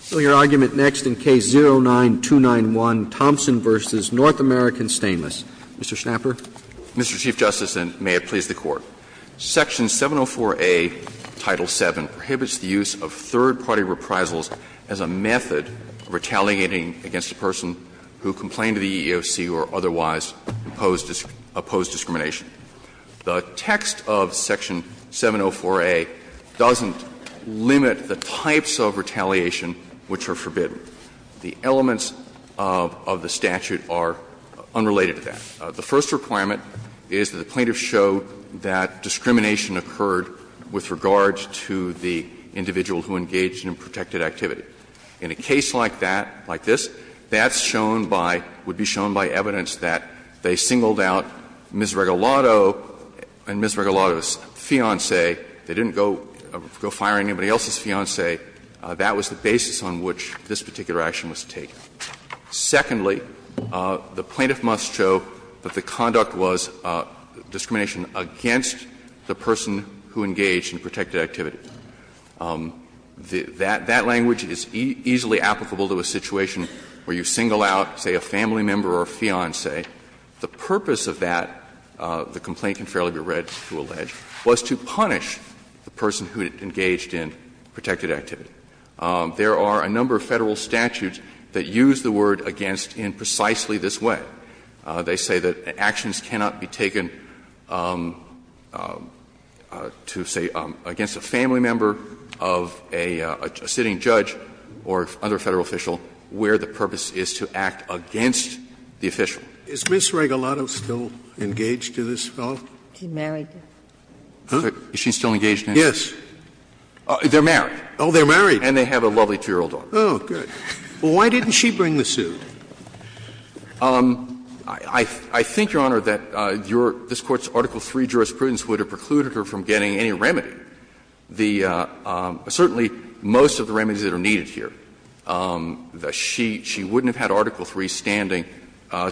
So your argument next in Case 09-291, Thompson v. North American Stainless. Mr. Schnapper. Mr. Chief Justice, and may it please the Court. Section 704A, Title VII, prohibits the use of third-party reprisals as a method of retaliating against a person who complained to the EEOC or otherwise opposed discrimination. The text of Section 704A doesn't limit the types of retaliation which are forbidden. The elements of the statute are unrelated to that. The first requirement is that the plaintiff show that discrimination occurred with regard to the individual who engaged in a protected activity. In a case like that, like this, that's shown by – would be shown by evidence that they singled out Ms. Regalado and Ms. Regalado's fiancé, they didn't go, go fire anybody else's fiancé, that was the basis on which this particular action was taken. Secondly, the plaintiff must show that the conduct was discrimination against the person who engaged in protected activity. That language is easily applicable to a situation where you single out, say, a family member or a fiancé. The purpose of that, the complaint can fairly be read to allege, was to punish the person who engaged in protected activity. There are a number of Federal statutes that use the word against in precisely this way. They say that actions cannot be taken to, say, against a family member of a sitting the official. Scalia Is Ms. Regalado still engaged to this fellow? He's married. Huh? Is she still engaged to him? Yes. They're married. Oh, they're married. And they have a lovely 2-year-old daughter. Oh, good. Well, why didn't she bring the suit? I think, Your Honor, that your – this Court's Article III jurisprudence would have precluded her from getting any remedy. The – certainly most of the remedies that are needed here. She wouldn't have had Article III standing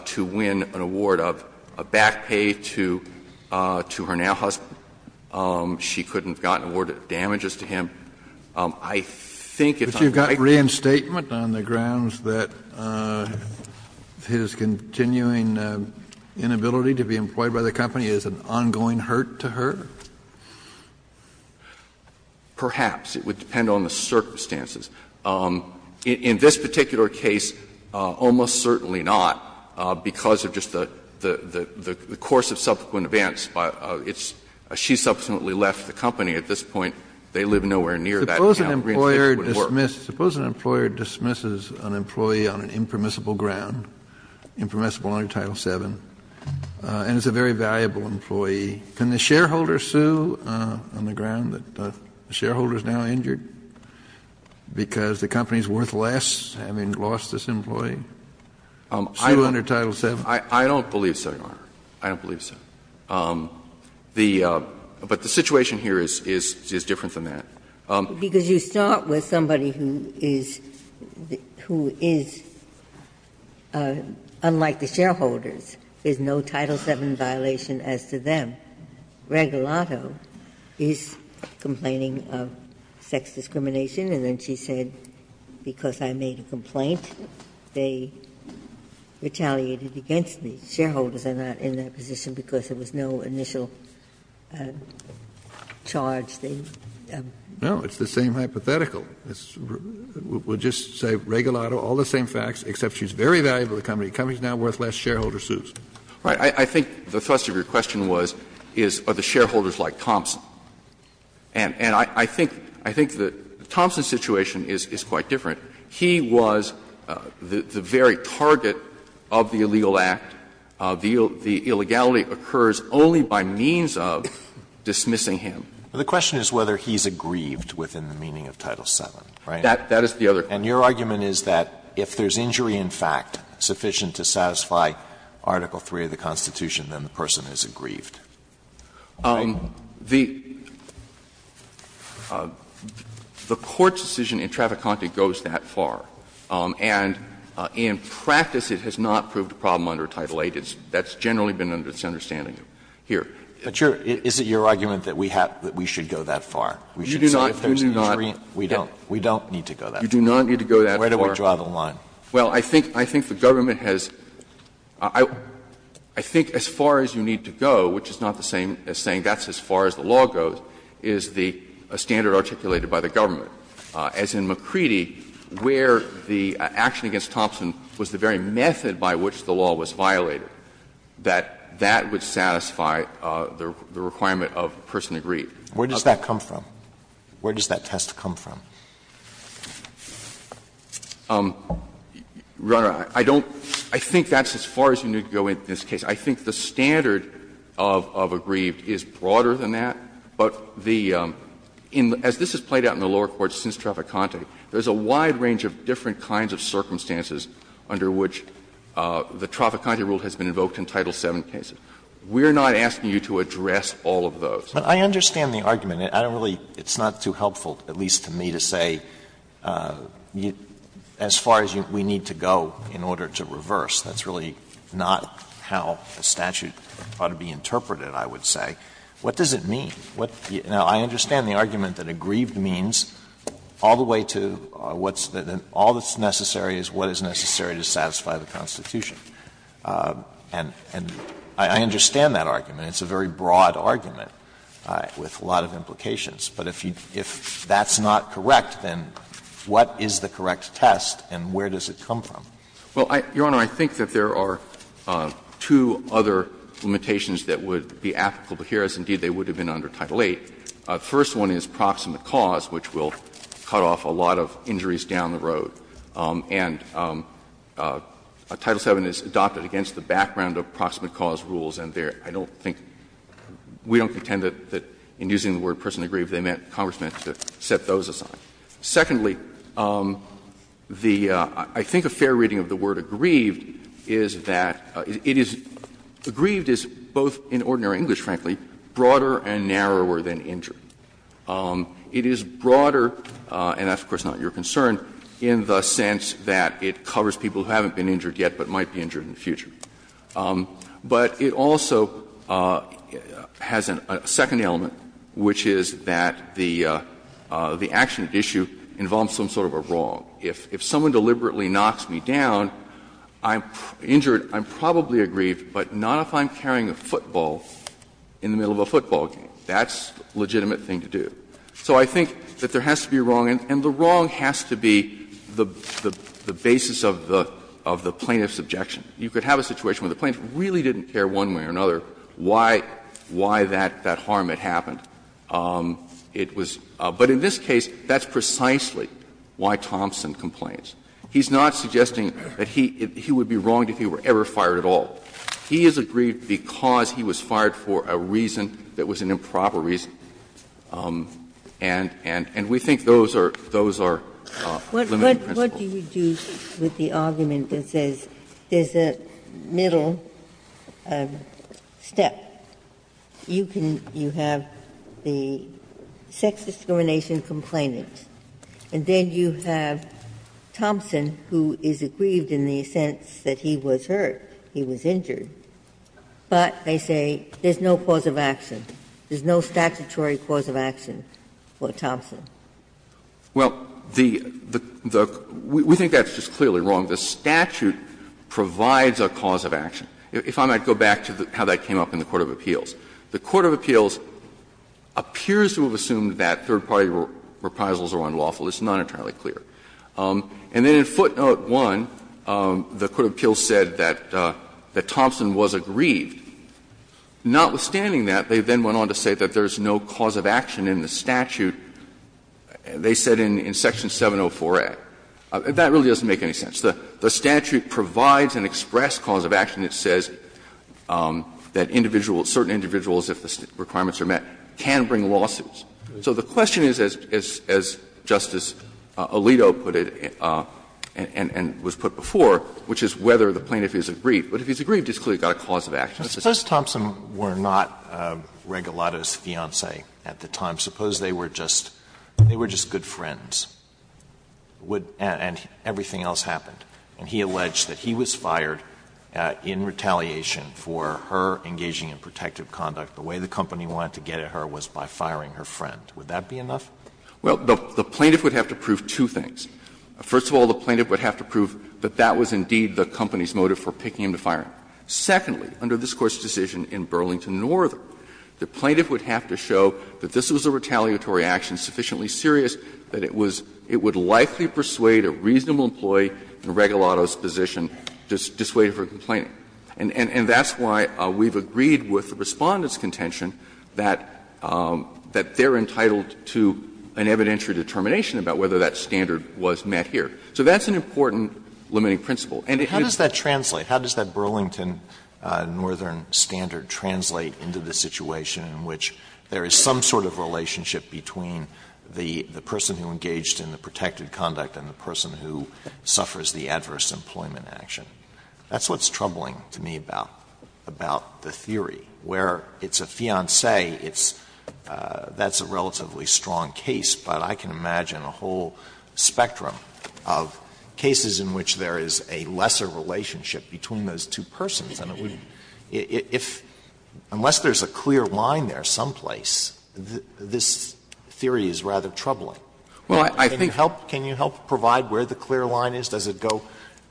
to win an award of back pay to her now husband. She couldn't have gotten award of damages to him. I think it's unlikely. But you've got reinstatement on the grounds that his continuing inability to be employed by the company is an ongoing hurt to her? Perhaps. It would depend on the circumstances. In this particular case, almost certainly not, because of just the course of subsequent events. It's – she subsequently left the company. At this point, they live nowhere near that now. Suppose an employer dismisses an employee on an impermissible ground, impermissible under Title VII, and it's a very valuable employee. Can the shareholder sue on the ground that the shareholder is now injured? Because the company is worth less, having lost this employee? Still under Title VII? I don't believe so, Your Honor. I don't believe so. The – but the situation here is different than that. Because you start with somebody who is – who is, unlike the shareholders, there's no Title VII violation as to them. Ginsburg, that Regalado is complaining of sex discrimination, and then she said, because I made a complaint, they retaliated against me. Shareholders are not in that position because there was no initial charge they had. No, it's the same hypothetical. We'll just say Regalado, all the same facts, except she's very valuable to the company. The company is now worth less. Shareholder sues. Right. I think the thrust of your question was, is, are the shareholders like Thompson? And I think the Thompson situation is quite different. He was the very target of the illegal act. The illegality occurs only by means of dismissing him. The question is whether he's aggrieved within the meaning of Title VII, right? That is the other. And your argument is that if there's injury in fact sufficient to satisfy Article III of the Constitution, then the person isn't aggrieved. The Court's decision in Traficante goes that far, and in practice, it has not proved a problem under Title VIII. That's generally been under this understanding here. But your – is it your argument that we have – that we should go that far? We should say if there's injury, we don't. We don't need to go that far. You do not need to go that far. Where do we draw the line? Well, I think the government has – I think as far as you need to go, which is not the same as saying that's as far as the law goes, is the standard articulated by the government. As in Macready, where the action against Thompson was the very method by which the law was violated, that that would satisfy the requirement of person aggrieved. Where does that come from? Where does that test come from? Runner, I don't – I think that's as far as you need to go in this case. I think the standard of aggrieved is broader than that, but the – as this has played out in the lower courts since Traficante, there's a wide range of different kinds of circumstances under which the Traficante rule has been invoked in Title VII cases. We're not asking you to address all of those. Alito, but I understand the argument. I don't really – it's not too helpful, at least to me, to say as far as we need to go in order to reverse. That's really not how the statute ought to be interpreted, I would say. What does it mean? What – now, I understand the argument that aggrieved means all the way to what's the – all that's necessary is what is necessary to satisfy the Constitution. And I understand that argument. It's a very broad argument. With a lot of implications. But if you – if that's not correct, then what is the correct test and where does it come from? Well, Your Honor, I think that there are two other limitations that would be applicable here, as indeed they would have been under Title VIII. The first one is proximate cause, which will cut off a lot of injuries down the road. And Title VII is adopted against the background of proximate cause rules, and I don't think – we don't contend that in using the word personally aggrieved, they meant – Congress meant to set those aside. Secondly, the – I think a fair reading of the word aggrieved is that it is – aggrieved is, both in ordinary English, frankly, broader and narrower than injured. It is broader – and that's, of course, not your concern – in the sense that it covers people who haven't been injured yet but might be injured in the future. But it also has a second element, which is that the action at issue involves some sort of a wrong. If someone deliberately knocks me down, I'm injured, I'm probably aggrieved, but not if I'm carrying a football in the middle of a football game. That's a legitimate thing to do. So I think that there has to be a wrong, and the wrong has to be the basis of the plaintiff's objection. You could have a situation where the plaintiff really didn't care one way or another why that harm had happened. It was – but in this case, that's precisely why Thompson complains. He's not suggesting that he would be wronged if he were ever fired at all. He is aggrieved because he was fired for a reason that was an improper reason, and we think those are – those are limiting principles. Ginsburg, what do you do with the argument that says there's a middle step? You can – you have the sex discrimination complainant, and then you have Thompson, who is aggrieved in the sense that he was hurt, he was injured, but they say there's no cause of action, there's no statutory cause of action for Thompson. Well, the – we think that's just clearly wrong. The statute provides a cause of action. If I might go back to how that came up in the court of appeals. The court of appeals appears to have assumed that third-party reprisals are unlawful. It's not entirely clear. And then in footnote 1, the court of appeals said that Thompson was aggrieved. Notwithstanding that, they then went on to say that there's no cause of action in the statute. They said in Section 704a. That really doesn't make any sense. The statute provides an express cause of action that says that individual – certain individuals, if the requirements are met, can bring lawsuits. So the question is, as Justice Alito put it and was put before, which is whether the plaintiff is aggrieved. But if he's aggrieved, he's clearly got a cause of action. Alito, suppose Thompson were not Regalado's fiancee at the time. Suppose they were just good friends, and everything else happened. And he alleged that he was fired in retaliation for her engaging in protective conduct. The way the company wanted to get at her was by firing her friend. Would that be enough? Well, the plaintiff would have to prove two things. First of all, the plaintiff would have to prove that that was indeed the company's motive for picking him to fire him. Secondly, under this Court's decision in Burlington, Northern, the plaintiff would have to show that this was a retaliatory action sufficiently serious that it was – it would likely persuade a reasonable employee in Regalado's position to dissuade her from complaining. And that's why we've agreed with the Respondent's contention that they're entitled to an evidentiary determination about whether that standard was met here. So that's an important limiting principle. Alito, I don't think that the Burlington, Northern standard translate into the situation in which there is some sort of relationship between the person who engaged in the protective conduct and the person who suffers the adverse employment action. That's what's troubling to me about the theory, where it's a fiancé, it's – that's a relatively strong case, but I can imagine a whole spectrum of cases in which there is a lesser relationship between those two persons, and it wouldn't – if – unless there's a clear line there someplace, this theory is rather troubling. Can you help – can you help provide where the clear line is? Does it go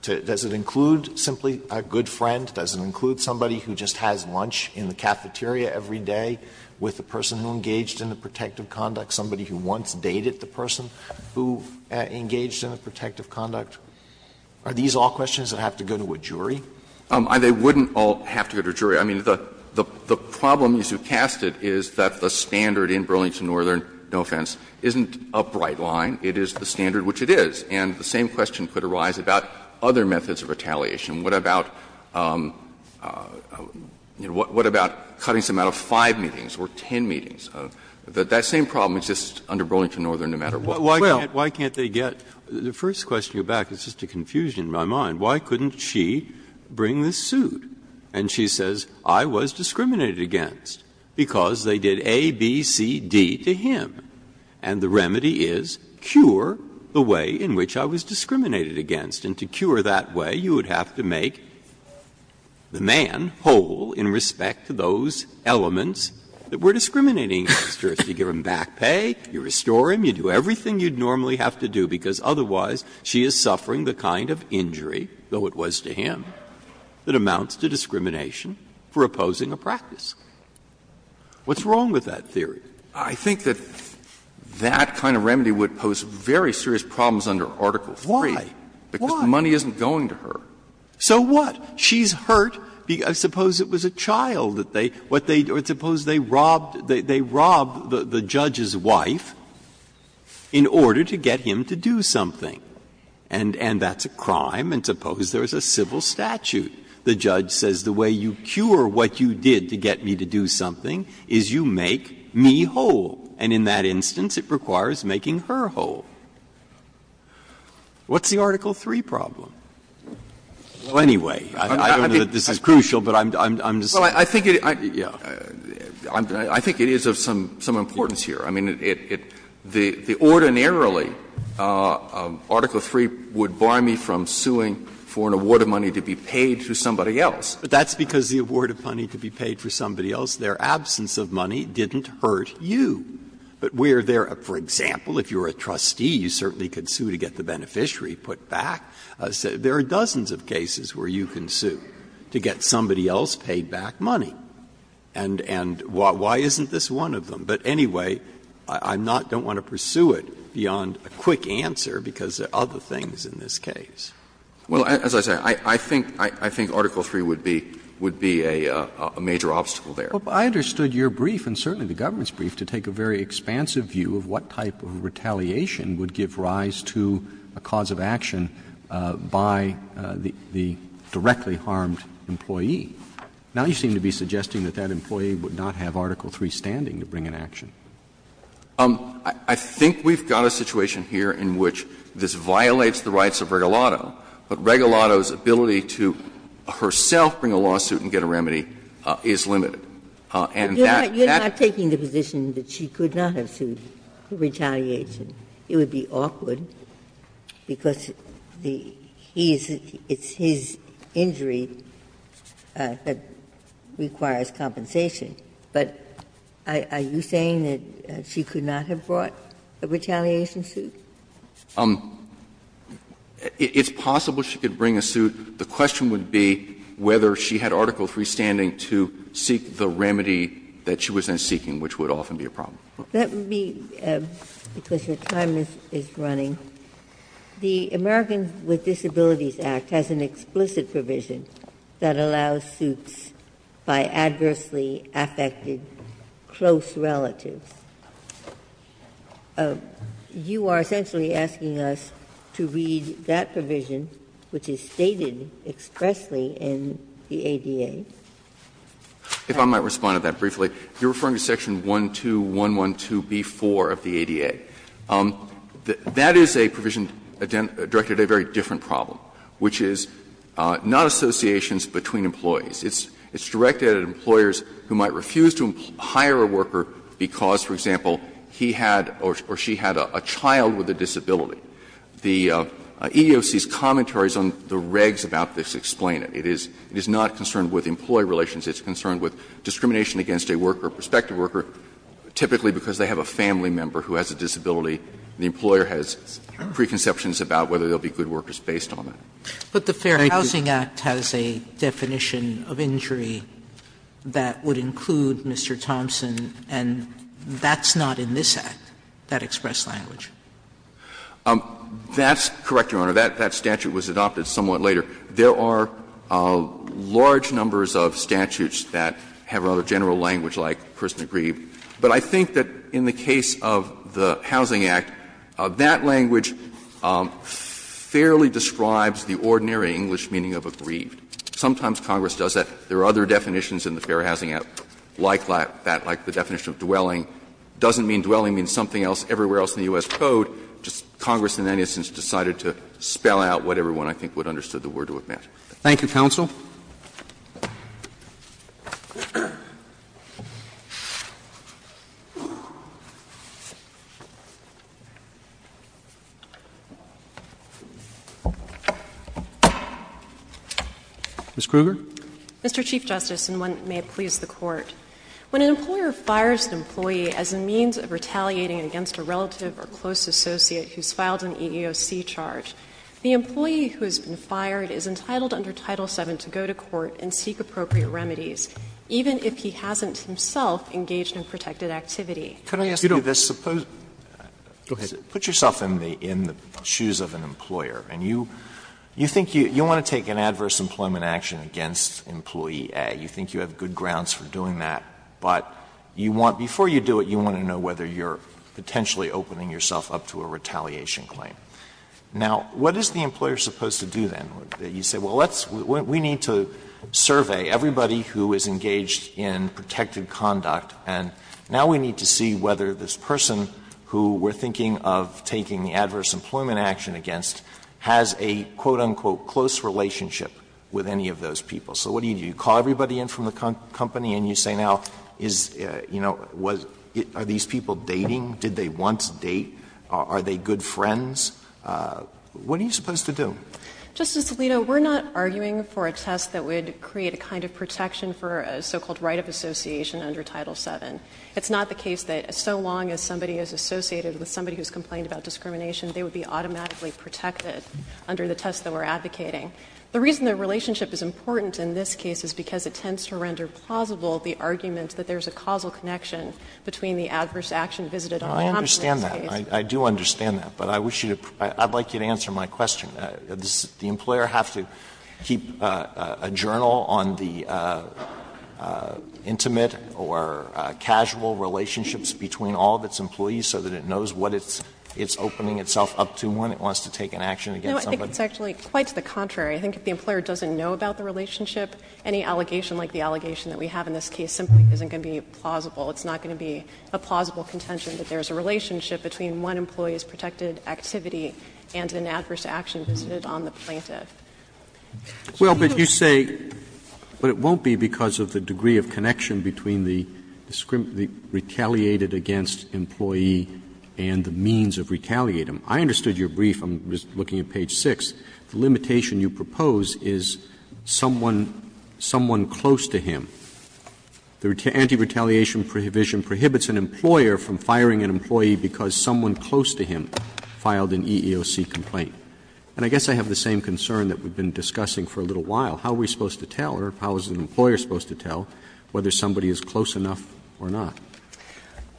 to – does it include simply a good friend? Does it include somebody who just has lunch in the cafeteria every day with the person who engaged in the protective conduct, somebody who once dated the person who engaged in the protective conduct? Are these all questions that have to go to a jury? They wouldn't all have to go to a jury. I mean, the problem as you cast it is that the standard in Burlington, Northern, no offense, isn't a bright line. It is the standard which it is. And the same question could arise about other methods of retaliation. What about – what about cutting some out of 5 meetings or 10 meetings? That same problem exists under Burlington, Northern no matter what. Breyer, why can't they get – the first question you're back to is just a confusion in my mind. Why couldn't she bring this suit and she says, I was discriminated against because they did A, B, C, D to him. And the remedy is cure the way in which I was discriminated against. And to cure that way, you would have to make the man whole in respect to those elements that were discriminating against her. You give him back pay, you restore him, you do everything you'd normally have to do, because otherwise she is suffering the kind of injury, though it was to him, that amounts to discrimination for opposing a practice. What's wrong with that theory? I think that that kind of remedy would pose very serious problems under Article III. Why? Why? Because the money isn't going to her. So what? She's hurt because – suppose it was a child that they – what they – or suppose they robbed – they robbed the judge's wife in order to get him to do something. And that's a crime, and suppose there's a civil statute. The judge says the way you cure what you did to get me to do something is you make me whole. And in that instance, it requires making her whole. What's the Article III problem? Well, anyway, I don't know that this is crucial, but I'm just saying. I think it is of some importance here. I mean, it – the ordinarily Article III would bar me from suing for an award of money to be paid to somebody else. But that's because the award of money to be paid for somebody else, their absence of money didn't hurt you. But where there are, for example, if you're a trustee, you certainly could sue to get the beneficiary put back. There are dozens of cases where you can sue to get somebody else paid back money. And why isn't this one of them? But anyway, I'm not – don't want to pursue it beyond a quick answer because there are other things in this case. Well, as I say, I think Article III would be a major obstacle there. But I understood your brief, and certainly the government's brief, to take a very expansive view of what type of retaliation would give rise to a cause of action by the directly harmed employee. Now you seem to be suggesting that that employee would not have Article III standing to bring an action. I think we've got a situation here in which this violates the rights of Regalado, but Regalado's ability to herself bring a lawsuit and get a remedy is limited. And that – that's the problem. You're not taking the position that she could not have sued for retaliation. It would be awkward because the – he's – it's his injury that requires compensation. But are you saying that she could not have brought a retaliation suit? It's possible she could bring a suit. The question would be whether she had Article III standing to seek the remedy that she was then seeking, which would often be a problem. Ginsburg-Miller That would be, because your time is running. The Americans with Disabilities Act has an explicit provision that allows suits by adversely affected close relatives. You are essentially asking us to read that provision, which is stated expressly in the ADA. If I might respond to that briefly. You're referring to section 12112b4 of the ADA. That is a provision directed at a very different problem, which is not associations between employees. It's directed at employers who might refuse to hire a worker because, for example, he had or she had a child with a disability. The EEOC's commentaries on the regs about this explain it. It is not concerned with employee relations. It's concerned with discrimination against a worker, a prospective worker, typically because they have a family member who has a disability and the employer has preconceptions about whether there will be good workers based on that. Sotomayor But the Fair Housing Act has a definition of injury that would include Mr. Thompson, and that's not in this Act, that express language. That's correct, Your Honor. That statute was adopted somewhat later. There are large numbers of statutes that have a general language like person aggrieved. But I think that in the case of the Housing Act, that language fairly describes the ordinary English meaning of aggrieved. Sometimes Congress does that. There are other definitions in the Fair Housing Act like that, like the definition of dwelling. It doesn't mean dwelling means something else everywhere else in the U.S. Code. But Congress in any instance decided to spell out what everyone, I think, would have understood the word to have meant. Thank you, counsel. Ms. Kruger. Mr. Chief Justice, and one that may please the Court, when an employer fires an employee as a means of retaliating against a relative or close associate who's filed an EEOC charge, the employee who has been fired is entitled under Title VII to go to court and seek appropriate remedies, even if he hasn't himself engaged in protected activity. Could I ask you this? Suppose you put yourself in the shoes of an employer, and you think you want to take an adverse employment action against employee A. You think you have good grounds for doing that. But you want to know, before you do it, you want to know whether you're potentially opening yourself up to a retaliation claim. Now, what is the employer supposed to do then? You say, well, let's we need to survey everybody who is engaged in protected conduct, and now we need to see whether this person who we're thinking of taking the adverse employment action against has a quote, unquote, close relationship with any of those people. So what do you do? You call everybody in from the company and you say, now, is, you know, are these people dating? Did they once date? Are they good friends? What are you supposed to do? O'Connell. Justice Alito, we're not arguing for a test that would create a kind of protection for a so-called right of association under Title VII. It's not the case that so long as somebody is associated with somebody who's complained about discrimination, they would be automatically protected under the test that we're advocating. The reason the relationship is important in this case is because it tends to render plausible the argument that there's a causal connection between the adverse action visited on the compromise case. Alito I understand that. I do understand that. But I wish you to – I'd like you to answer my question. Does the employer have to keep a journal on the intimate or casual relationships between all of its employees so that it knows what it's opening itself up to when it wants to take an action against somebody? It's actually quite to the contrary. I think if the employer doesn't know about the relationship, any allegation like the allegation that we have in this case simply isn't going to be plausible. It's not going to be a plausible contention that there's a relationship between one employee's protected activity and an adverse action visited on the plaintiff. So do you agree? Well, but you say, but it won't be because of the degree of connection between the retaliated against employee and the means of retaliating. I understood your brief. I'm just looking at page 6. The limitation you propose is someone – someone close to him. The anti-retaliation provision prohibits an employer from firing an employee because someone close to him filed an EEOC complaint. And I guess I have the same concern that we've been discussing for a little while. How are we supposed to tell, or how is an employer supposed to tell whether somebody is close enough or not?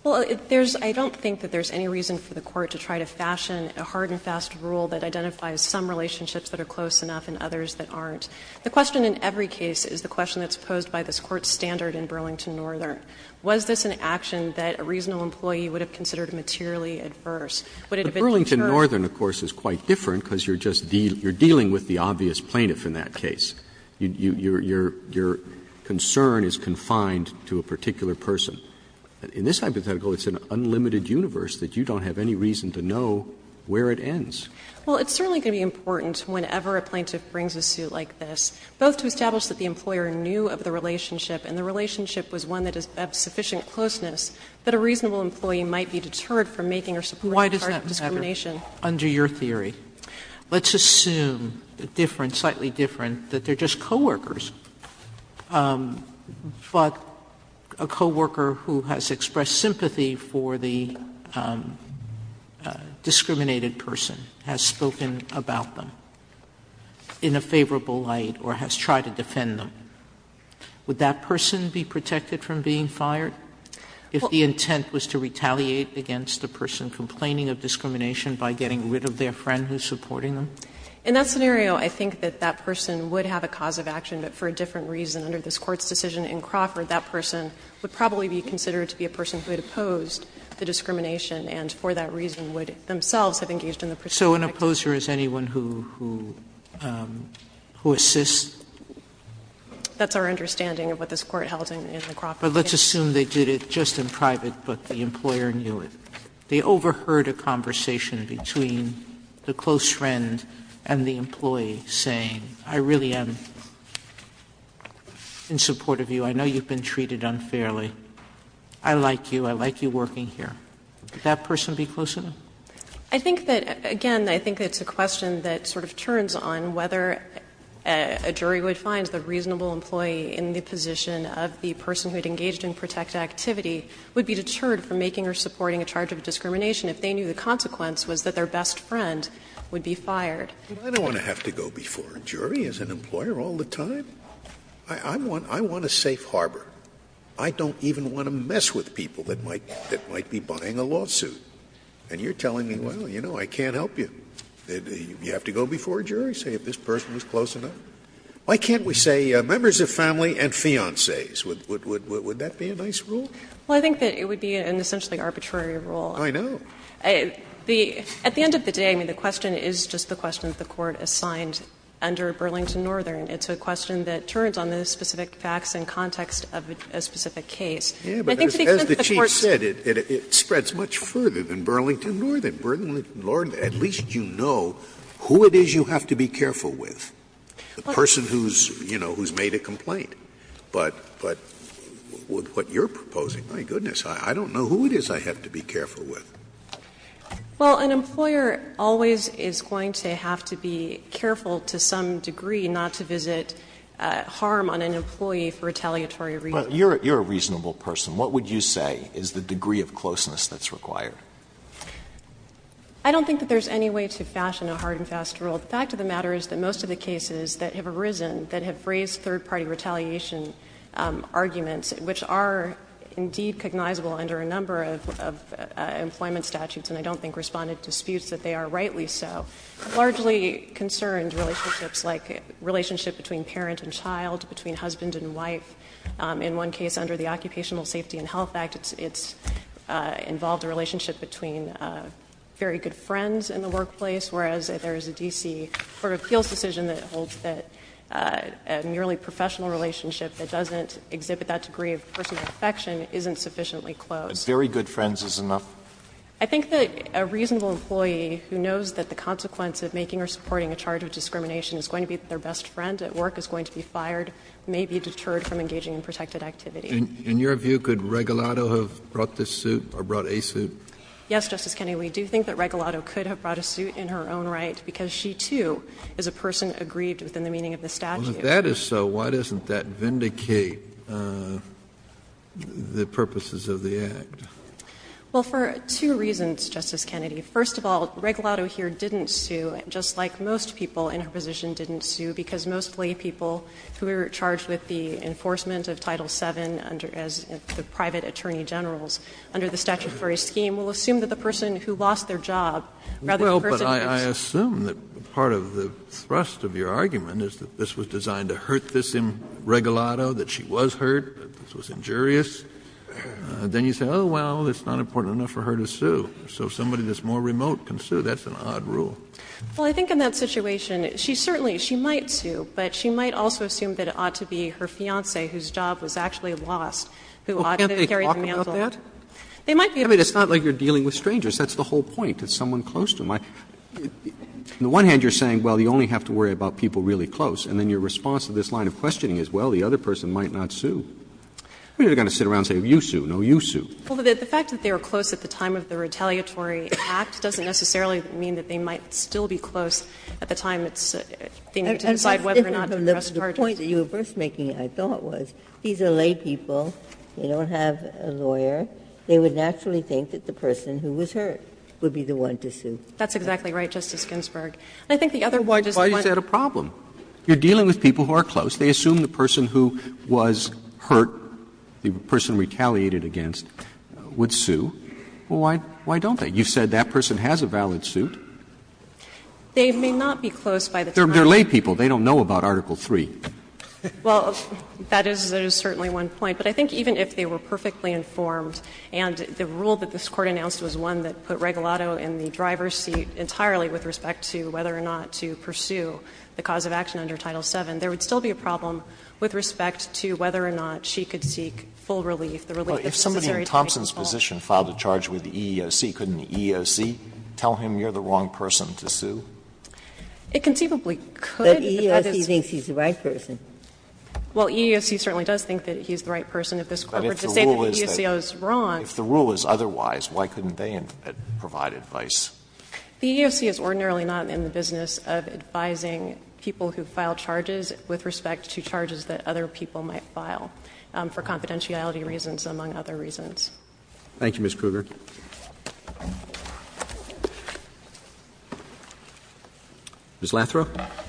Well, there's – I don't think that there's any reason for the Court to try to fashion a hard-and-fast rule that identifies some relationships that are close enough and others that aren't. The question in every case is the question that's posed by this Court's standard in Burlington Northern. Was this an action that a reasonable employee would have considered materially adverse? Would it have been deferred? But Burlington Northern, of course, is quite different because you're just dealing with the obvious plaintiff in that case. Your concern is confined to a particular person. In this hypothetical, it's an unlimited universe that you don't have any reason to know where it ends. Well, it's certainly going to be important whenever a plaintiff brings a suit like this, both to establish that the employer knew of the relationship and the relationship was one that is of sufficient closeness, that a reasonable employee might be deterred from making or supporting a charge of discrimination. Sotomayor, under your theory, let's assume, slightly different, that they're just a discriminated person, has spoken about them in a favorable light, or has tried to defend them. Would that person be protected from being fired if the intent was to retaliate against the person complaining of discrimination by getting rid of their friend who's supporting them? In that scenario, I think that that person would have a cause of action, but for a different reason. Under this Court's decision in Crawford, that person would probably be considered to be a person who had opposed the discrimination and, for that reason, would themselves have engaged in the prosecution. Sotomayor, so an opposer is anyone who assists? That's our understanding of what this Court held in Crawford. But let's assume they did it just in private, but the employer knew it. They overheard a conversation between the close friend and the employee saying, I really am in support of you, I know you've been treated unfairly. I like you, I like you working here. Would that person be close to them? I think that, again, I think it's a question that sort of turns on whether a jury would find the reasonable employee in the position of the person who had engaged in protected activity would be deterred from making or supporting a charge of discrimination if they knew the consequence was that their best friend would be fired. I don't want to have to go before a jury as an employer all the time. I want a safe harbor. I don't even want to mess with people that might be buying a lawsuit. And you're telling me, well, you know, I can't help you. You have to go before a jury, say if this person was close enough. Why can't we say members of family and fiancées? Would that be a nice rule? Well, I think that it would be an essentially arbitrary rule. I know. At the end of the day, I mean, the question is just the question that the Court assigned under Burlington Northern. It's a question that turns on the specific facts and context of a specific case. And I think to the extent that the Court's said it, it spreads much further than Burlington Northern. Burlington Northern, at least you know who it is you have to be careful with, the person who's, you know, who's made a complaint. But what you're proposing, my goodness, I don't know who it is I have to be careful with. Well, an employer always is going to have to be careful to some degree not to visit harm on an employee for retaliatory reasons. But you're a reasonable person. What would you say is the degree of closeness that's required? I don't think that there's any way to fashion a hard and fast rule. The fact of the matter is that most of the cases that have arisen that have raised third-party retaliation arguments, which are indeed cognizable under a number of employment statutes, and I don't think Respondent disputes that they are rightly so, largely concern relationships like relationship between parent and child, between husband and wife. In one case under the Occupational Safety and Health Act, it's involved a relationship between very good friends in the workplace, whereas if there's a D.C. Court of Appeals decision that holds that a merely professional relationship that doesn't exhibit that degree of personal affection isn't sufficiently close. But very good friends is enough? I think that a reasonable employee who knows that the consequence of making or supporting a charge of discrimination is going to be that their best friend at work is going to be fired may be deterred from engaging in protected activity. And in your view, could Regalado have brought this suit, or brought a suit? Yes, Justice Kennedy. We do think that Regalado could have brought a suit in her own right, because she, too, is a person aggrieved within the meaning of the statute. Well, if that is so, why doesn't that vindicate the purposes of the Act? Well, for two reasons, Justice Kennedy. First of all, Regalado here didn't sue, just like most people in her position didn't sue, because mostly people who are charged with the enforcement of Title VII under as the private attorney generals under the statutory scheme will assume that the person who lost their job rather than the person who was sued. Well, but I assume that part of the thrust of your argument is that this was designed to hurt this Regalado, that she was hurt, that this was injurious. Then you say, oh, well, it's not important enough for her to sue. So somebody that's more remote can sue. That's an odd rule. Well, I think in that situation, she certainly she might sue, but she might also assume that it ought to be her fiancé, whose job was actually lost, who ought to carry the mantle. Well, can't they talk about that? I mean, it's not like you're dealing with strangers. That's the whole point. It's someone close to them. On the one hand, you're saying, well, you only have to worry about people really close, and then your response to this line of questioning is, well, the other person might not sue. We're not going to sit around and say, you sue. No, you sue. Well, the fact that they were close at the time of the retaliatory act doesn't necessarily mean that they might still be close at the time it's to decide whether or not to press charges. The point that you were first making, I thought, was these are laypeople. They don't have a lawyer. They would naturally think that the person who was hurt would be the one to sue. That's exactly right, Justice Ginsburg. I think the other one is the one that's not. Why is that a problem? You're dealing with people who are close. They assume the person who was hurt, the person retaliated against, would sue. Well, why don't they? You said that person has a valid suit. They're laypeople. They don't know about Article III. Well, that is certainly one point. But I think even if they were perfectly informed, and the rule that this Court announced was one that put Regalado in the driver's seat entirely with respect to whether or not to pursue the cause of action under Title VII, there would still be a problem with respect to whether or not she could seek full relief, the relief that's necessary to make a call. Alito, if somebody in Thompson's position filed a charge with the EEOC, couldn't the EEOC tell him you're the wrong person to sue? It conceivably could, but that is not the case. But the EEOC thinks he's the right person. Well, EEOC certainly does think that he's the right person. If this Court were to say that the EEOC is wrong. But if the rule is that the rule is otherwise, why couldn't they provide advice? The EEOC is ordinarily not in the business of advising people who file charges with respect to charges that other people might file for confidentiality reasons, among other reasons. Thank you, Ms. Kruger. Ms. Lathrow.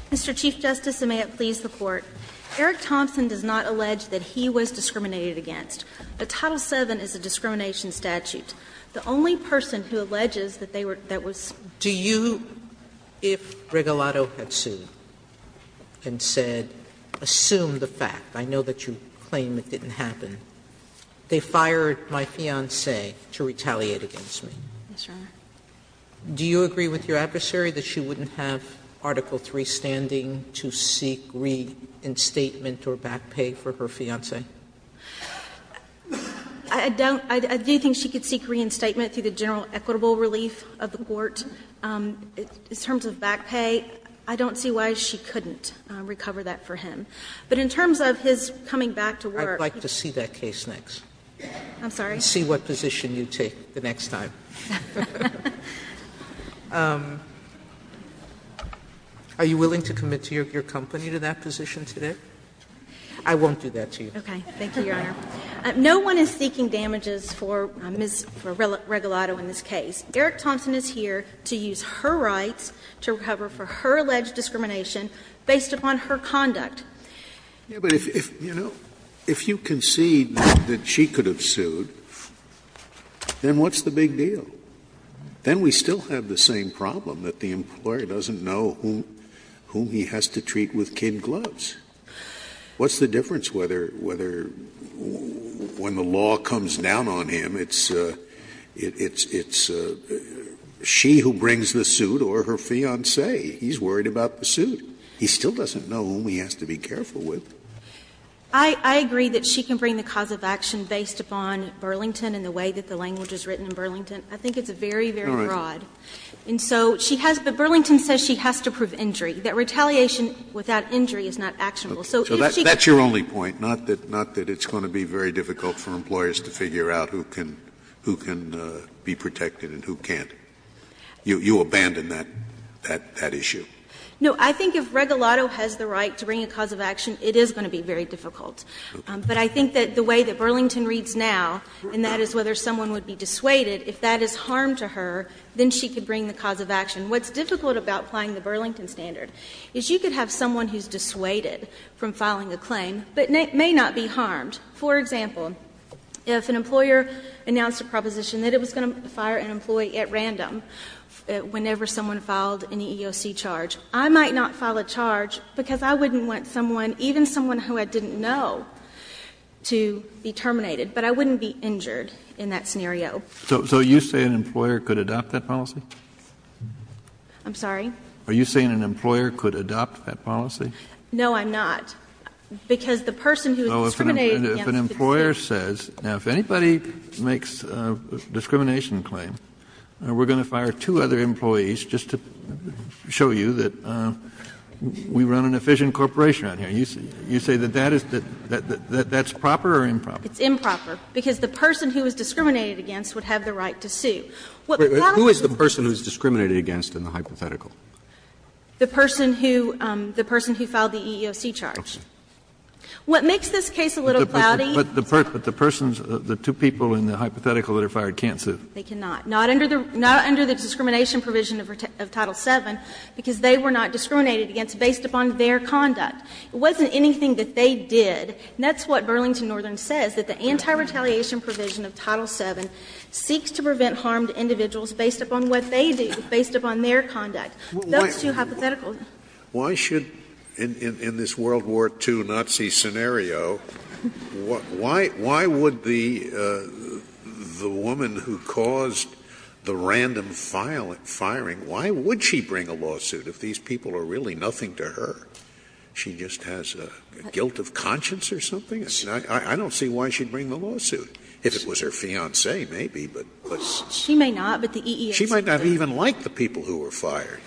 Mr. Chief Justice, and may it please the Court, Eric Thompson does not allege that he was discriminated against. The Title VII is a discrimination statute. The only person who alleges that they were – that was – Do you, if Regalado had sued and said, assume the fact, I know that you claim it didn't happen, they fired my fiancée to retaliate against me, do you agree with your adversary that she wouldn't have Article III standing to seek reinstatement or back pay for her fiancée? I don't – I do think she could seek reinstatement through the general equitable relief of the court. In terms of back pay, I don't see why she couldn't recover that for him. But in terms of his coming back to work, he could seek reinstatement. I would like to see that case next. I'm sorry? And see what position you take the next time. Are you willing to commit your company to that position today? I won't do that to you. Okay. Thank you, Your Honor. No one is seeking damages for Ms. Regalado in this case. Eric Thompson is here to use her rights to recover for her alleged discrimination based upon her conduct. Yeah, but if, you know, if you concede that she could have sued, then what's the big deal? Then we still have the same problem, that the employer doesn't know whom he has to treat with kid gloves. What's the difference whether when the law comes down on him, it's she who brings the suit or her fiancé? He's worried about the suit. He still doesn't know whom he has to be careful with. I agree that she can bring the cause of action based upon Burlington and the way that the language is written in Burlington. I think it's very, very broad. And so she has to be ---- Burlington says she has to prove injury. That retaliation without injury is not actionable. So if she can't bring the cause of action, then she can't bring the cause of action. So that's your only point, not that it's going to be very difficult for employers to figure out who can be protected and who can't. You abandon that issue. No. I think if Regalado has the right to bring a cause of action, it is going to be very difficult. But I think that the way that Burlington reads now, and that is whether someone would be dissuaded, if that is harm to her, then she could bring the cause of action. What's difficult about applying the Burlington standard is you could have someone who is dissuaded from filing a claim, but may not be harmed. For example, if an employer announced a proposition that it was going to fire an employee at random whenever someone filed an EEOC charge, I might not file a charge, because I wouldn't want someone, even someone who I didn't know, to be terminated. But I wouldn't be injured in that scenario. So you say an employer could adopt that policy? I'm sorry? Are you saying an employer could adopt that policy? No, I'm not. Because the person who is discriminated against could say no. If an employer says, now, if anybody makes a discrimination claim, we're going to fire two other employees just to show you that we run an efficient corporation around here, you say that that is the ‑‑ that's proper or improper? It's improper. Because the person who is discriminated against would have the right to sue. What the title of this case is ‑‑ But who is the person who is discriminated against in the hypothetical? The person who ‑‑ the person who filed the EEOC charge. What makes this case a little cloudy ‑‑ But the persons ‑‑ the two people in the hypothetical that are fired can't sue. They cannot. Not under the discrimination provision of Title VII, because they were not discriminated against based upon their conduct. It wasn't anything that they did. And that's what Burlington Northern says, that the anti-retaliation provision of Title VII seeks to prevent harm to individuals based upon what they do, based upon their conduct. Those two hypotheticals. Scalia. Why should ‑‑ in this World War II Nazi scenario, why would the woman who caused the random firing, why would she bring a lawsuit if these people are really nothing to her? She just has a guilt of conscience or something? I don't see why she would bring the lawsuit. If it was her fiancé, maybe, but ‑‑ She may not, but the EEOC ‑‑ She might not even like the people who were fired.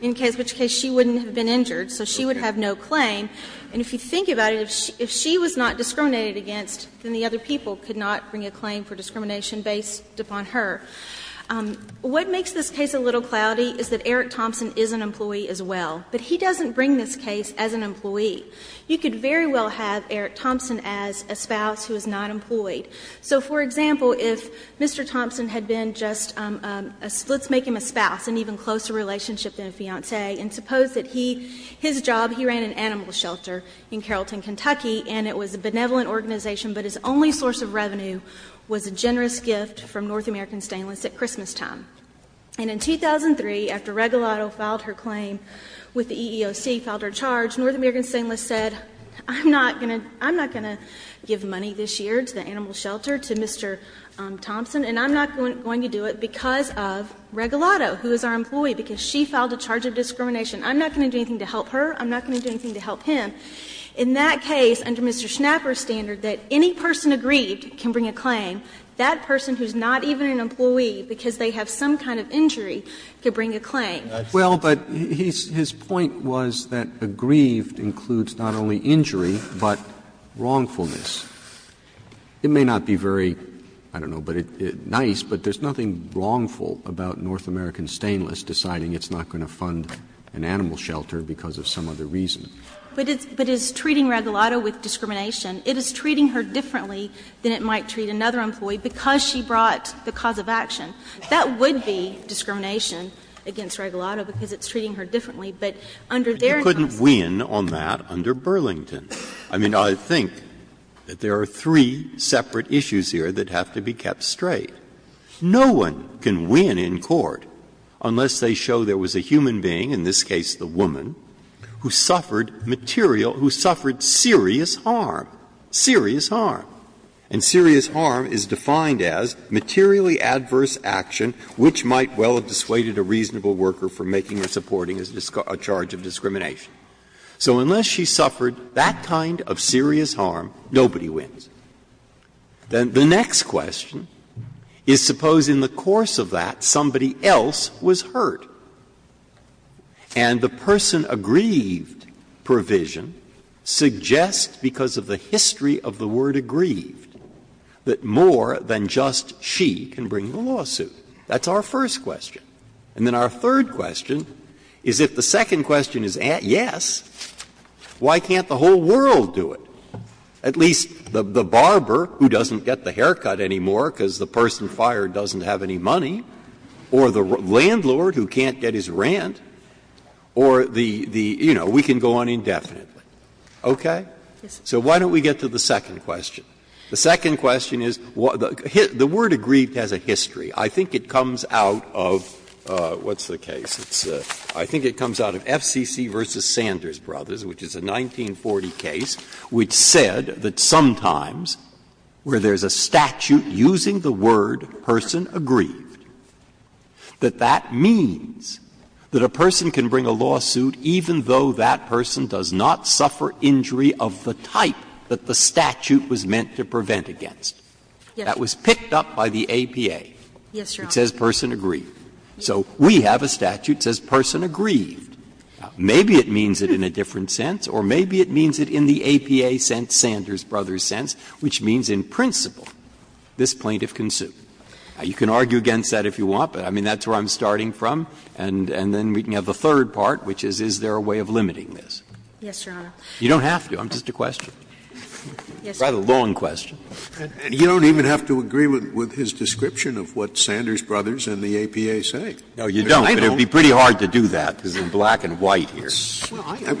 In which case she wouldn't have been injured, so she would have no claim. And if you think about it, if she was not discriminated against, then the other people could not bring a claim for discrimination based upon her. What makes this case a little cloudy is that Eric Thompson is an employee as well. But he doesn't bring this case as an employee. You could very well have Eric Thompson as a spouse who is not employed. So for example, if Mr. Thompson had been just a ‑‑ let's make him a spouse, an even closer relationship than a fiancé, and suppose that he, his job, he ran an animal shelter in Carrollton, Kentucky, and it was a benevolent organization, but his only source of revenue was a generous gift from North American Stainless at Christmastime. And in 2003, after Regalado filed her claim with the EEOC, filed her charge, North American Stainless said, I'm not going to give money this year to the animal shelter, to Mr. Thompson, and I'm not going to do it because of Regalado, who is our employee, because she filed a charge of discrimination. I'm not going to do anything to help her. I'm not going to do anything to help him. In that case, under Mr. Schnapper's standard, that any person aggrieved can bring a claim. That person who is not even an employee, because they have some kind of injury, could bring a claim. Roberts. Well, but his point was that aggrieved includes not only injury, but wrongfulness. It may not be very, I don't know, nice, but there is nothing wrongful about North American Stainless deciding it's not going to fund an animal shelter because of some other reason. But it's treating Regalado with discrimination. It is treating her differently than it might treat another employee because she brought the cause of action. That would be discrimination against Regalado because it's treating her differently, but under their terms. Breyer. You couldn't win on that under Burlington. I mean, I think that there are three separate issues here that have to be kept straight. No one can win in court unless they show there was a human being, in this case the harm, serious harm. And serious harm is defined as materially adverse action which might well have dissuaded a reasonable worker from making or supporting a charge of discrimination. So unless she suffered that kind of serious harm, nobody wins. Then the next question is, suppose in the course of that somebody else was hurt, and the person aggrieved provision suggests because of the history of the word aggrieved that more than just she can bring the lawsuit. That's our first question. And then our third question is, if the second question is yes, why can't the whole world do it? At least the barber who doesn't get the haircut anymore because the person fired doesn't have any money, or the landlord who can't get his rent, or the, you know, we can go on indefinitely. Okay? So why don't we get to the second question? The second question is, the word aggrieved has a history. I think it comes out of, what's the case? I think it comes out of FCC v. Sanders Brothers, which is a 1940 case, which said that sometimes where there's a statute using the word person aggrieved, that that means that a person can bring a lawsuit even though that person does not suffer injury of the type that the statute was meant to prevent against. That was picked up by the APA. It says person aggrieved. So we have a statute that says person aggrieved. Maybe it means it in a different sense, or maybe it means it in the APA sense, Sanders Brothers sense, which means in principle, this plaintiff can sue. You can argue against that if you want, but I mean, that's where I'm starting from. And then we can have the third part, which is, is there a way of limiting this? You don't have to. I'm just a question. It's a rather long question. Scalia, and you don't even have to agree with his description of what Sanders Brothers and the APA say. No, you don't, but it would be pretty hard to do that, because it's black and white here. Scalia,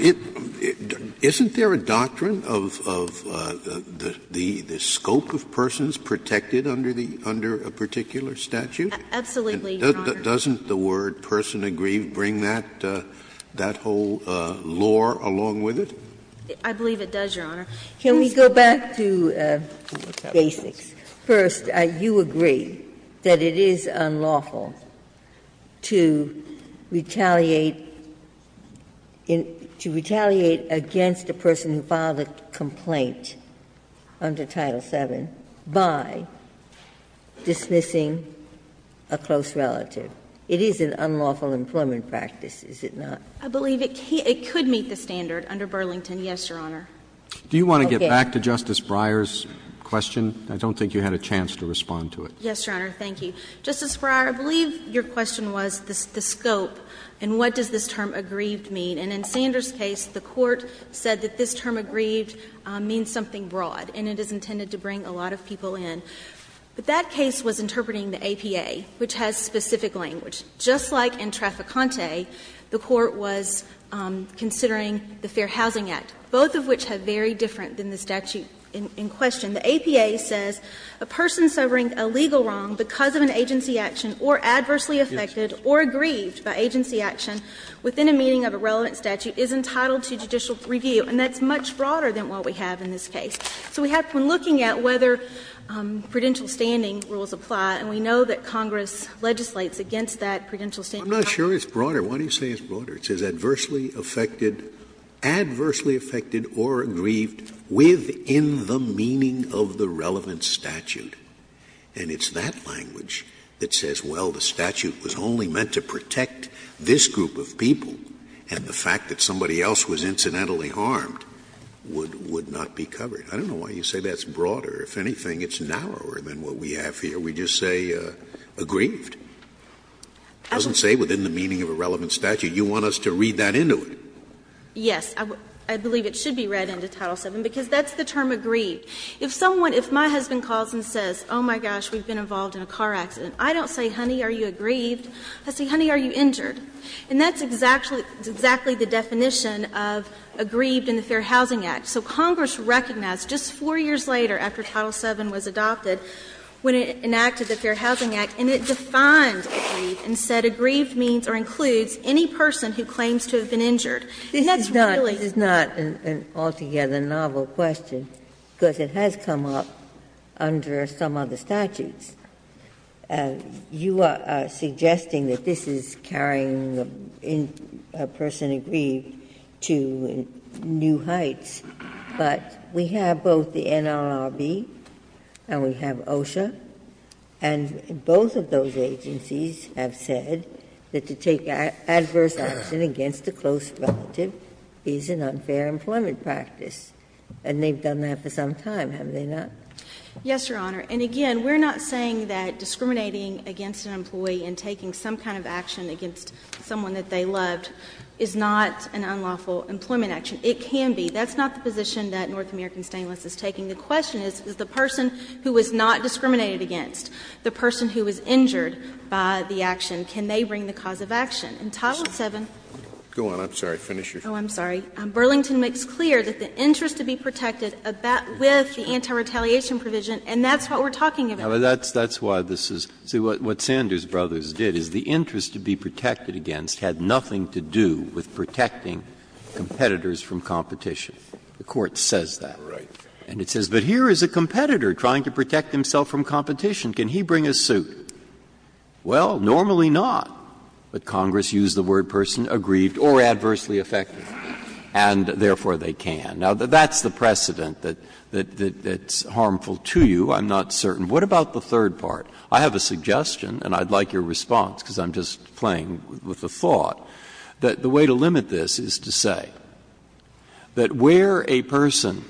isn't there a doctrine of the scope of persons protected under the under a particular statute? Absolutely, Your Honor. Doesn't the word person aggrieved bring that whole lore along with it? I believe it does, Your Honor. Ginsburg, can we go back to basics? First, you agree that it is unlawful to retaliate against a person who filed a complaint under Title VII by dismissing a close relative. It is an unlawful employment practice, is it not? I believe it could meet the standard under Burlington, yes, Your Honor. Do you want to get back to Justice Breyer's question? I don't think you had a chance to respond to it. Yes, Your Honor. Thank you. Justice Breyer, I believe your question was the scope and what does this term aggrieved mean. And in Sanders' case, the Court said that this term aggrieved means something broad, and it is intended to bring a lot of people in. But that case was interpreting the APA, which has specific language. The APA says a person suffering a legal wrong because of an agency action or adversely affected or aggrieved by agency action within a meeting of a relevant statute is entitled to judicial review, and that's much broader than what we have in this case. So we have been looking at whether prudential standing rules apply, and we know that Congress legislates against that prudential standing. I'm not sure it's broader. Why do you say it's broader? It says adversely affected or aggrieved within the meeting of the relevant statute. And it's that language that says, well, the statute was only meant to protect this group of people, and the fact that somebody else was incidentally harmed would not be covered. I don't know why you say that's broader. If anything, it's narrower than what we have here. We just say aggrieved. It doesn't say within the meeting of a relevant statute. You want us to read that into it? Yes. I believe it should be read into Title VII, because that's the term aggrieved. If someone, if my husband calls and says, oh, my gosh, we've been involved in a car accident, I don't say, honey, are you aggrieved? I say, honey, are you injured? And that's exactly the definition of aggrieved in the Fair Housing Act. So Congress recognized just four years later after Title VII was adopted, when it enacted the Fair Housing Act, and it defined aggrieved and said aggrieved means or includes any person who claims to have been injured. And that's really the case. Ginsburg-Miller This is not an altogether novel question, because it has come up under some other statutes. You are suggesting that this is carrying a person aggrieved to new heights, but we have both the NLRB and we have OSHA. And both of those agencies have said that to take adverse action against a close relative is an unfair employment practice. And they've done that for some time, have they not? Yes, Your Honor. And again, we're not saying that discriminating against an employee and taking some kind of action against someone that they loved is not an unlawful employment action. It can be. That's not the position that North American Stainless is taking. The question is, is the person who is not discriminated against, the person who was injured by the action, can they bring the cause of action? In Title VII, Burlington makes clear that the interest to be protected with the anti-retaliation provision, and that's what we're talking about. Breyer, that's why this is what Sanders Brothers did, is the interest to be protected against had nothing to do with protecting competitors from competition. The Court says that. And it says, but here is a competitor trying to protect himself from competition. Can he bring a suit? Well, normally not. But Congress used the word person aggrieved or adversely affected, and therefore they can. Now, that's the precedent that's harmful to you. I'm not certain. What about the third part? I have a suggestion, and I'd like your response, because I'm just playing with a thought. The way to limit this is to say that where a person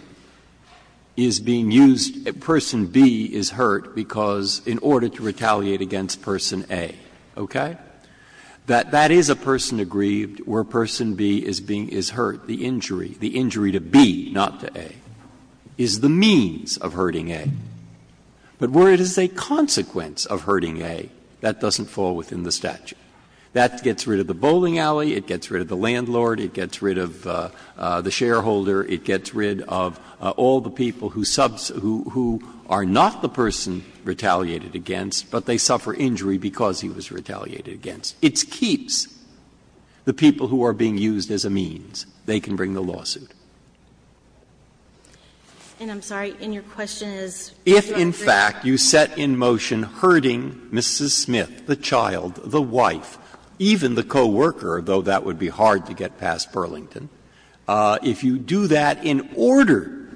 is being used, a person B is hurt because, in order to retaliate against person A, okay? That that is a person aggrieved, where person B is hurt, the injury, the injury to B, not to A, is the means of hurting A. But where it is a consequence of hurting A, that doesn't fall within the statute. That gets rid of the bowling alley, it gets rid of the landlord, it gets rid of the shareholder, it gets rid of all the people who are not the person retaliated against, but they suffer injury because he was retaliated against. It keeps the people who are being used as a means. They can bring the lawsuit. And I'm sorry, and your question is, do I agree? In fact, you set in motion hurting Mrs. Smith, the child, the wife, even the coworker, though that would be hard to get past Burlington. If you do that in order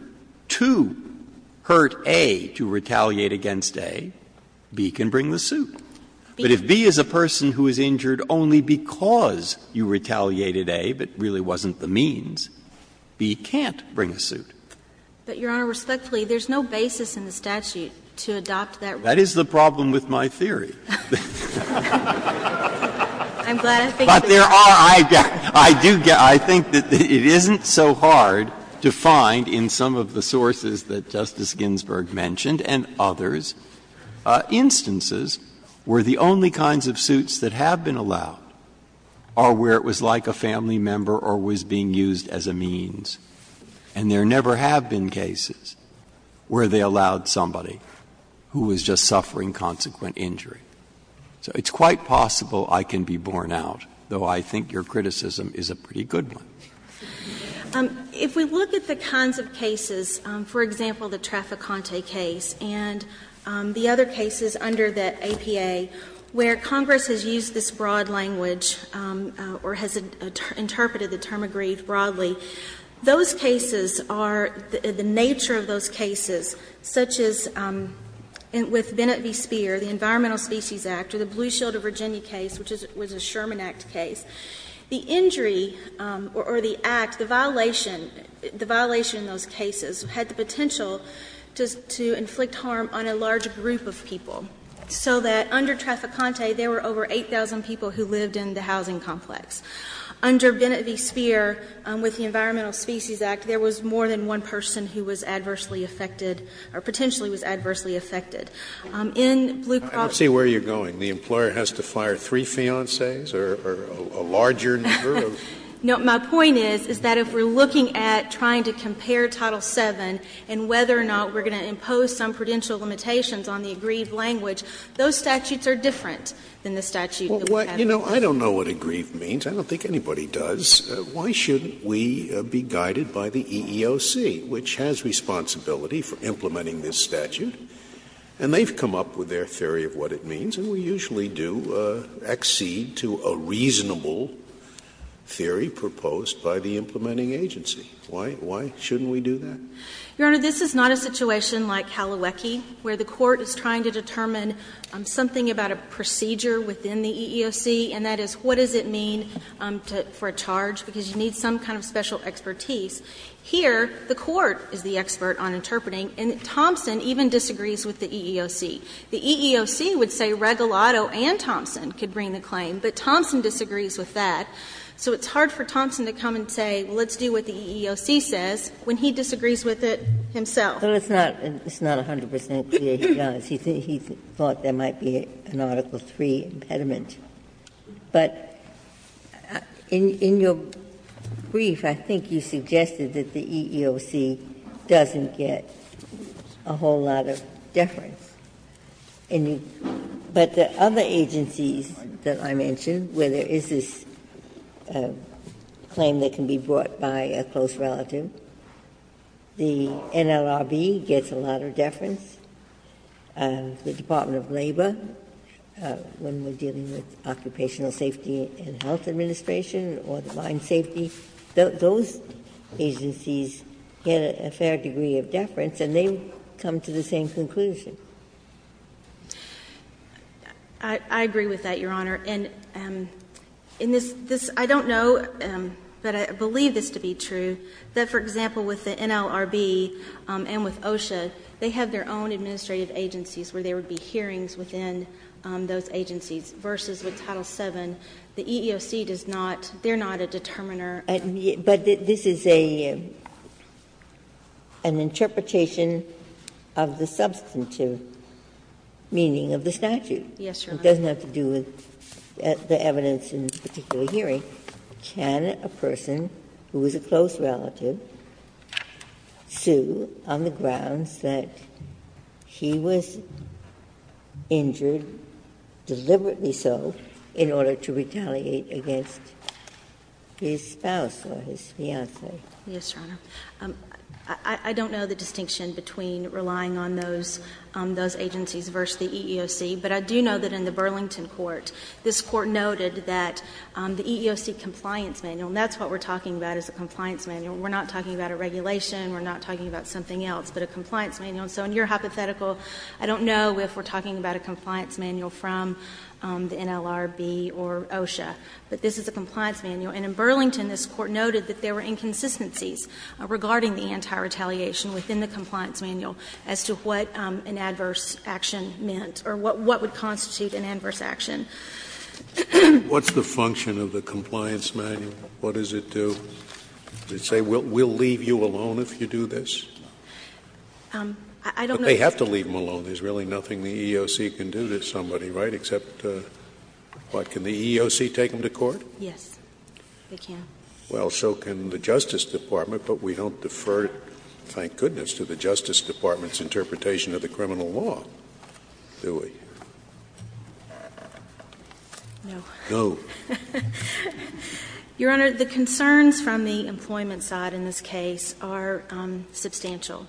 to hurt A to retaliate against A, B can bring the suit. But if B is a person who is injured only because you retaliated A, but really wasn't But, Your Honor, respectfully, there's no basis in the statute to adopt that rule. That is the problem with my theory. I'm glad I think it is. But there are, I do get, I think that it isn't so hard to find in some of the sources that Justice Ginsburg mentioned and others, instances where the only kinds of suits that have been allowed are where it was like a family member or was being used as a means. And there never have been cases where they allowed somebody who was just suffering consequent injury. So it's quite possible I can be borne out, though I think your criticism is a pretty good one. If we look at the kinds of cases, for example, the Trafficante case and the other cases under the APA, where Congress has used this broad language or has interpreted the term agreed broadly, those cases are, the nature of those cases, such as with Bennett v. Speer, the Environmental Species Act, or the Blue Shield of Virginia case, which was a Sherman Act case. The injury, or the act, the violation in those cases had the potential to inflict harm on a large group of people. So that under Trafficante, there were over 8,000 people who lived in the housing complex. Under Bennett v. Speer, with the Environmental Species Act, there was more than one person who was adversely affected, or potentially was adversely affected. In Blue Cross- I don't see where you're going. The employer has to fire three fiancees or a larger number of- No, my point is, is that if we're looking at trying to compare Title VII and whether or not we're going to impose some prudential limitations on the aggrieved language, those statutes are different than the statute that we have. You know, I don't know what aggrieved means. I don't think anybody does. Why shouldn't we be guided by the EEOC, which has responsibility for implementing this statute? And they've come up with their theory of what it means, and we usually do accede to a reasonable theory proposed by the implementing agency. Why shouldn't we do that? Your Honor, this is not a situation like Kaliweke, where the court is trying to determine something about a procedure within the EEOC, and that is, what does it mean for a charge, because you need some kind of special expertise. Here, the court is the expert on interpreting, and Thompson even disagrees with the EEOC. The EEOC would say Regalado and Thompson could bring the claim, but Thompson disagrees with that. So it's hard for Thompson to come and say, well, let's do what the EEOC says. When he disagrees with it himself. Ginsburg. But it's not 100 percent clear he does. He thought there might be an Article III impediment. But in your brief, I think you suggested that the EEOC doesn't get a whole lot of deference. But the other agencies that I mentioned, where there is this claim that can be brought forth by a close relative, the NLRB gets a lot of deference, the Department of Labor, when we're dealing with occupational safety and health administration or the mine safety, those agencies get a fair degree of deference, and they come to the same conclusion. I agree with that, Your Honor. And in this, this, I don't know, but I believe this to be true, that, for example, with the NLRB and with OSHA, they have their own administrative agencies where there would be hearings within those agencies, versus with Title VII. The EEOC does not, they're not a determiner. Ginsburg. But this is an interpretation of the substantive meaning of the statute. Yes, Your Honor. It doesn't have to do with the evidence in this particular hearing. Can a person who is a close relative sue on the grounds that he was injured, deliberately so, in order to retaliate against his spouse or his fiancée? Yes, Your Honor. I don't know the distinction between relying on those agencies versus the EEOC. But I do know that in the Burlington court, this court noted that the EEOC compliance manual, and that's what we're talking about is a compliance manual. We're not talking about a regulation. We're not talking about something else, but a compliance manual. And so in your hypothetical, I don't know if we're talking about a compliance manual from the NLRB or OSHA, but this is a compliance manual. And in Burlington, this court noted that there were inconsistencies regarding the anti-retaliation within the compliance manual as to what an adverse action meant, or what would constitute an adverse action. What's the function of the compliance manual? What does it do? Does it say, we'll leave you alone if you do this? I don't know. But they have to leave him alone. There's really nothing the EEOC can do to somebody, right, except, what, can the EEOC take him to court? Yes, they can. Well, so can the Justice Department, but we don't defer, thank goodness, to the Justice Department's interpretation of the criminal law. Do we? No. Your Honor, the concerns from the employment side in this case are substantial.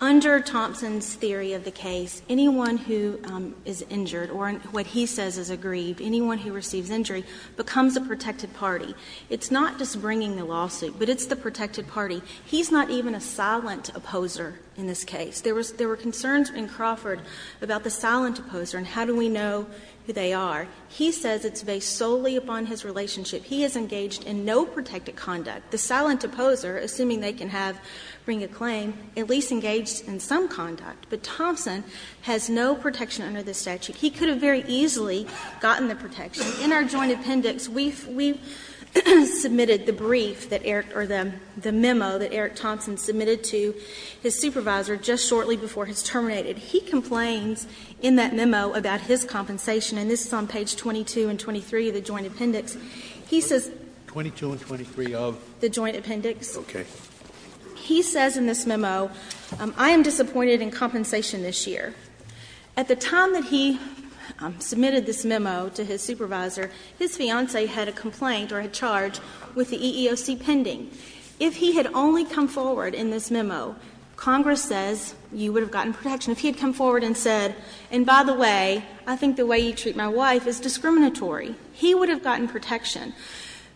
Under Thompson's theory of the case, anyone who is injured, or what he says is aggrieved, anyone who receives injury, becomes a protected party. It's not just bringing the lawsuit, but it's the protected party. He's not even a silent opposer in this case. There were concerns in Crawford about the silent opposer and how do we know who they are. He says it's based solely upon his relationship. He is engaged in no protected conduct. The silent opposer, assuming they can have, bring a claim, at least engaged in some conduct. But Thompson has no protection under this statute. He could have very easily gotten the protection. In our joint appendix, we've submitted the brief that Eric, or the memo that Eric submitted, shortly before his terminated, he complains in that memo about his compensation. And this is on page 22 and 23 of the joint appendix. He says- 22 and 23 of? The joint appendix. Okay. He says in this memo, I am disappointed in compensation this year. At the time that he submitted this memo to his supervisor, his fiance had a complaint or a charge with the EEOC pending. If he had only come forward in this memo, Congress says you would have gotten protection. If he had come forward and said, and by the way, I think the way you treat my wife is discriminatory, he would have gotten protection.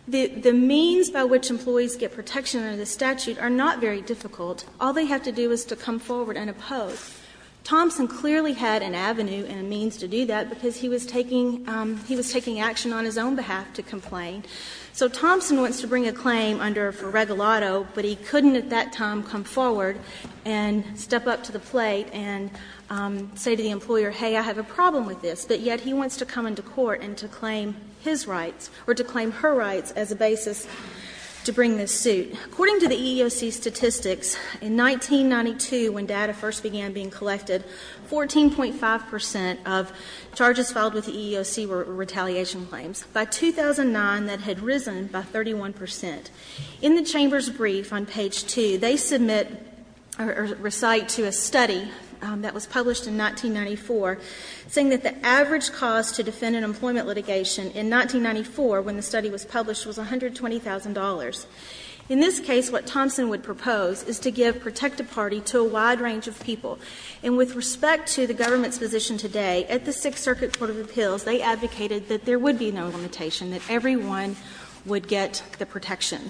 The means by which employees get protection under the statute are not very difficult. All they have to do is to come forward and oppose. Thompson clearly had an avenue and a means to do that because he was taking action on his own behalf to complain. So Thompson wants to bring a claim under, for Regalado, but he couldn't at that time come forward and step up to the plate and say to the employer, hey, I have a problem with this. But yet he wants to come into court and to claim his rights, or to claim her rights, as a basis to bring this suit. According to the EEOC statistics, in 1992, when data first began being collected, 14.5 percent of charges filed with the EEOC were retaliation claims. By 2009, that had risen by 31 percent. In the Chamber's brief on page 2, they submit or recite to a study that was published in 1994, saying that the average cost to defend an employment litigation in 1994, when the study was published, was $120,000. In this case, what Thompson would propose is to give protective party to a wide range of people. And with respect to the government's position today, at the Sixth Circuit Court of Appeals, they advocated that there would be no limitation, that everyone would get the protection.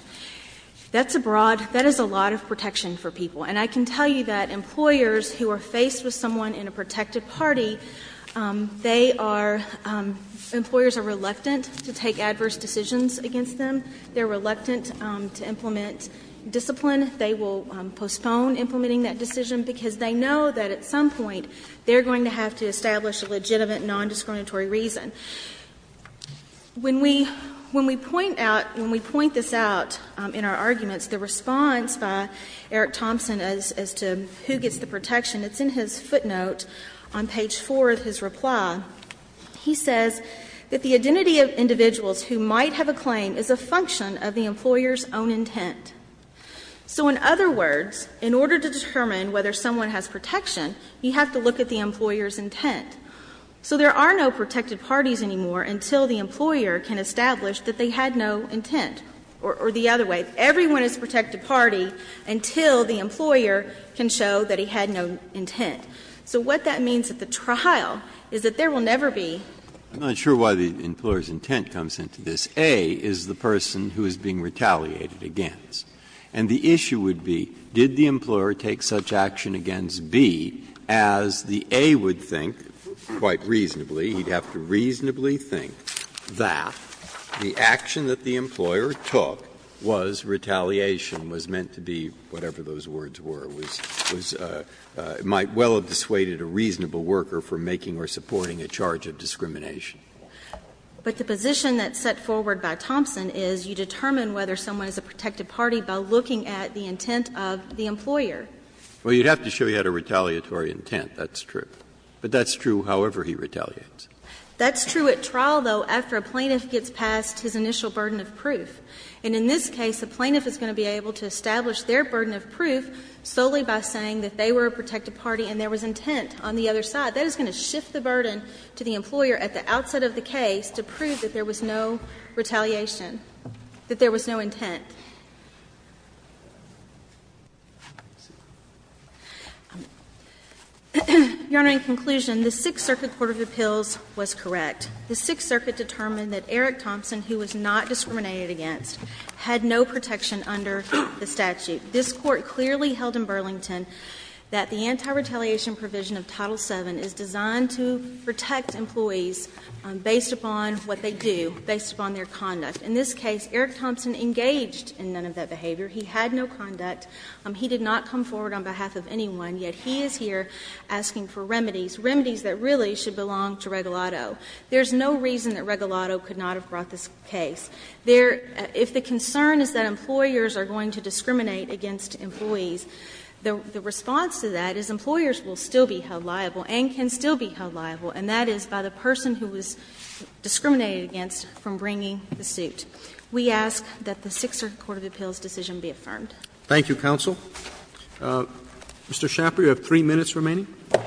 That's a broad – that is a lot of protection for people. And I can tell you that employers who are faced with someone in a protective party, they are – employers are reluctant to take adverse decisions against them. They're reluctant to implement discipline. They will postpone implementing that decision, because they know that at some point they're going to have to establish a legitimate nondiscriminatory reason. When we – when we point out – when we point this out in our arguments, the response by Eric Thompson as to who gets the protection, it's in his footnote on page 4 of his reply. He says that the identity of individuals who might have a claim is a function of the employer's own intent. So in other words, in order to determine whether someone has protection, you have to look at the employer's intent. So there are no protective parties anymore until the employer can establish that they had no intent. Or the other way, everyone is a protective party until the employer can show that he had no intent. So what that means at the trial is that there will never be… Breyer. I'm not sure why the employer's intent comes into this. A is the person who is being retaliated against. And the issue would be, did the employer take such action against B as the A would think, quite reasonably, he'd have to reasonably think, that the action that the employer took was retaliation, was meant to be whatever those words were, was – was – might well have dissuaded a reasonable worker from making or supporting a charge of discrimination. But the position that's set forward by Thompson is you determine whether someone is a protective party by looking at the intent of the employer. Well, you'd have to show he had a retaliatory intent, that's true. But that's true however he retaliates. That's true at trial, though, after a plaintiff gets past his initial burden of proof. And in this case, a plaintiff is going to be able to establish their burden of proof solely by saying that they were a protective party and there was intent on the other side. That is going to shift the burden to the employer at the outset of the case to prove that there was no retaliation, that there was no intent. Your Honor, in conclusion, the Sixth Circuit Court of Appeals was correct. The Sixth Circuit determined that Eric Thompson, who was not discriminated against, had no protection under the statute. This Court clearly held in Burlington that the anti-retaliation provision of Title VII is designed to protect employees based upon what they do, based upon their conduct. In this case, Eric Thompson engaged in none of that behavior. He had no conduct. He did not come forward on behalf of anyone. Yet he is here asking for remedies, remedies that really should belong to Regalado. There's no reason that Regalado could not have brought this case. There – if the concern is that employers are going to discriminate against employees, the response to that is employers will still be held liable and can still be held liable, and that is by the person who was discriminated against from bringing the suit. We ask that the Sixth Circuit Court of Appeals' decision be affirmed. Roberts Thank you, counsel. Mr. Schnapper, you have three minutes remaining. Schnapper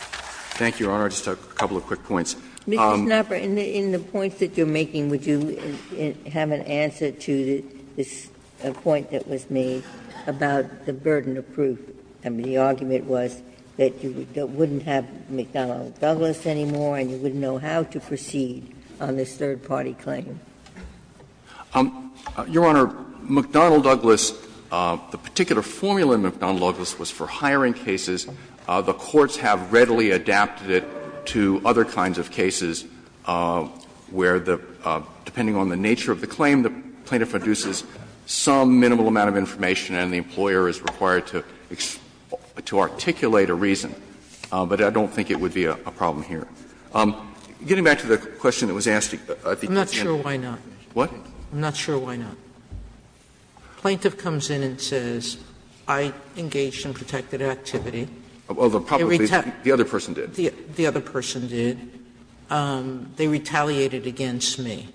Thank you, Your Honor. Just a couple of quick points. Ginsburg Mr. Schnapper, in the points that you are making, would you have an answer to this point that was made about the burden of proof? I mean, the argument was that you wouldn't have McDonnell Douglas anymore and you wouldn't know how to proceed on this third-party claim. Schnapper Your Honor, McDonnell Douglas, the particular formula in McDonnell Douglas was for hiring cases. The courts have readily adapted it to other kinds of cases where the – depending on the nature of the claim, the plaintiff produces some minimal amount of information and the employer is required to articulate a reason. But I don't think it would be a problem here. Getting back to the question that was asked at the consent hearing. Sotomayor I'm not sure why not. Schnapper What? Sotomayor I'm not sure why not. The plaintiff comes in and says, I engaged in protected activity. Schnapper Although, probably the other person did. Sotomayor The other person did. They retaliated against me.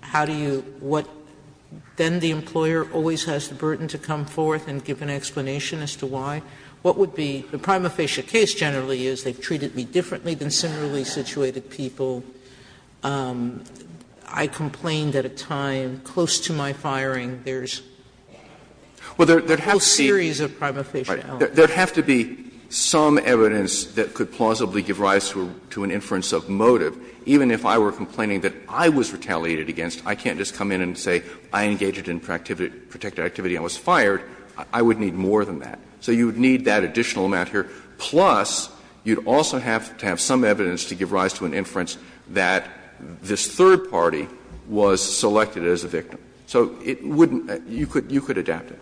How do you – what – then the employer always has the burden to come forth and give an explanation as to why? What would be – the prima facie case generally is they've treated me differently than similarly situated people. I complained at a time close to my firing. There's a whole series of prima facie elements. Schnapper There would have to be some evidence that could plausibly give rise to an inference of motive. Even if I were complaining that I was retaliated against, I can't just come in and say I engaged in protected activity and was fired. I would need more than that. So you would need that additional amount here. Plus, you'd also have to have some evidence to give rise to an inference that this third party was selected as a victim. So it wouldn't – you could adapt it.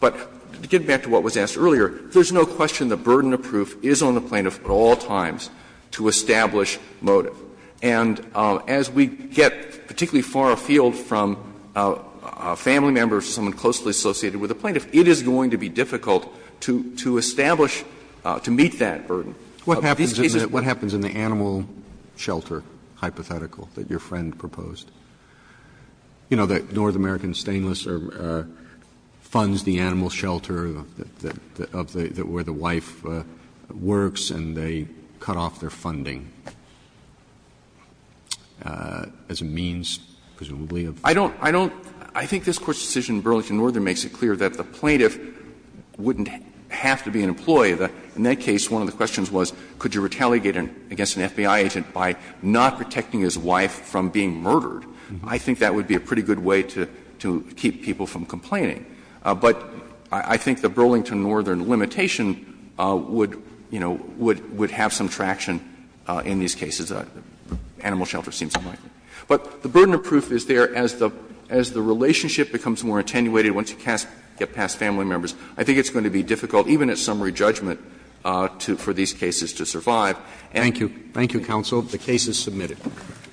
But to get back to what was asked earlier, there's no question the burden of proof is on the plaintiff at all times to establish motive. And as we get particularly far afield from a family member or someone closely associated with the plaintiff, it is going to be difficult to establish, to meet that burden. In these cases. Roberts What happens in the animal shelter hypothetical that your friend proposed? You know, the North American Stainless Funds the animal shelter of the – where the wife works, and they cut off their funding as a means, presumably, of funding. Schnapper I don't – I don't – I think this Court's decision in Burlington Northern makes it clear that the plaintiff wouldn't have to be an employee. In that case, one of the questions was, could you retaliate against an FBI agent by not protecting his wife from being murdered? I think that would be a pretty good way to keep people from complaining. But I think the Burlington Northern limitation would, you know, would have some traction in these cases. Animal shelter seems fine. But the burden of proof is there as the relationship becomes more attenuated once you get past family members. I think it's going to be difficult, even at summary judgment, for these cases to survive. And I think it's going to be difficult to get past family members. Thank you. Thank you, counsel. The case is submitted.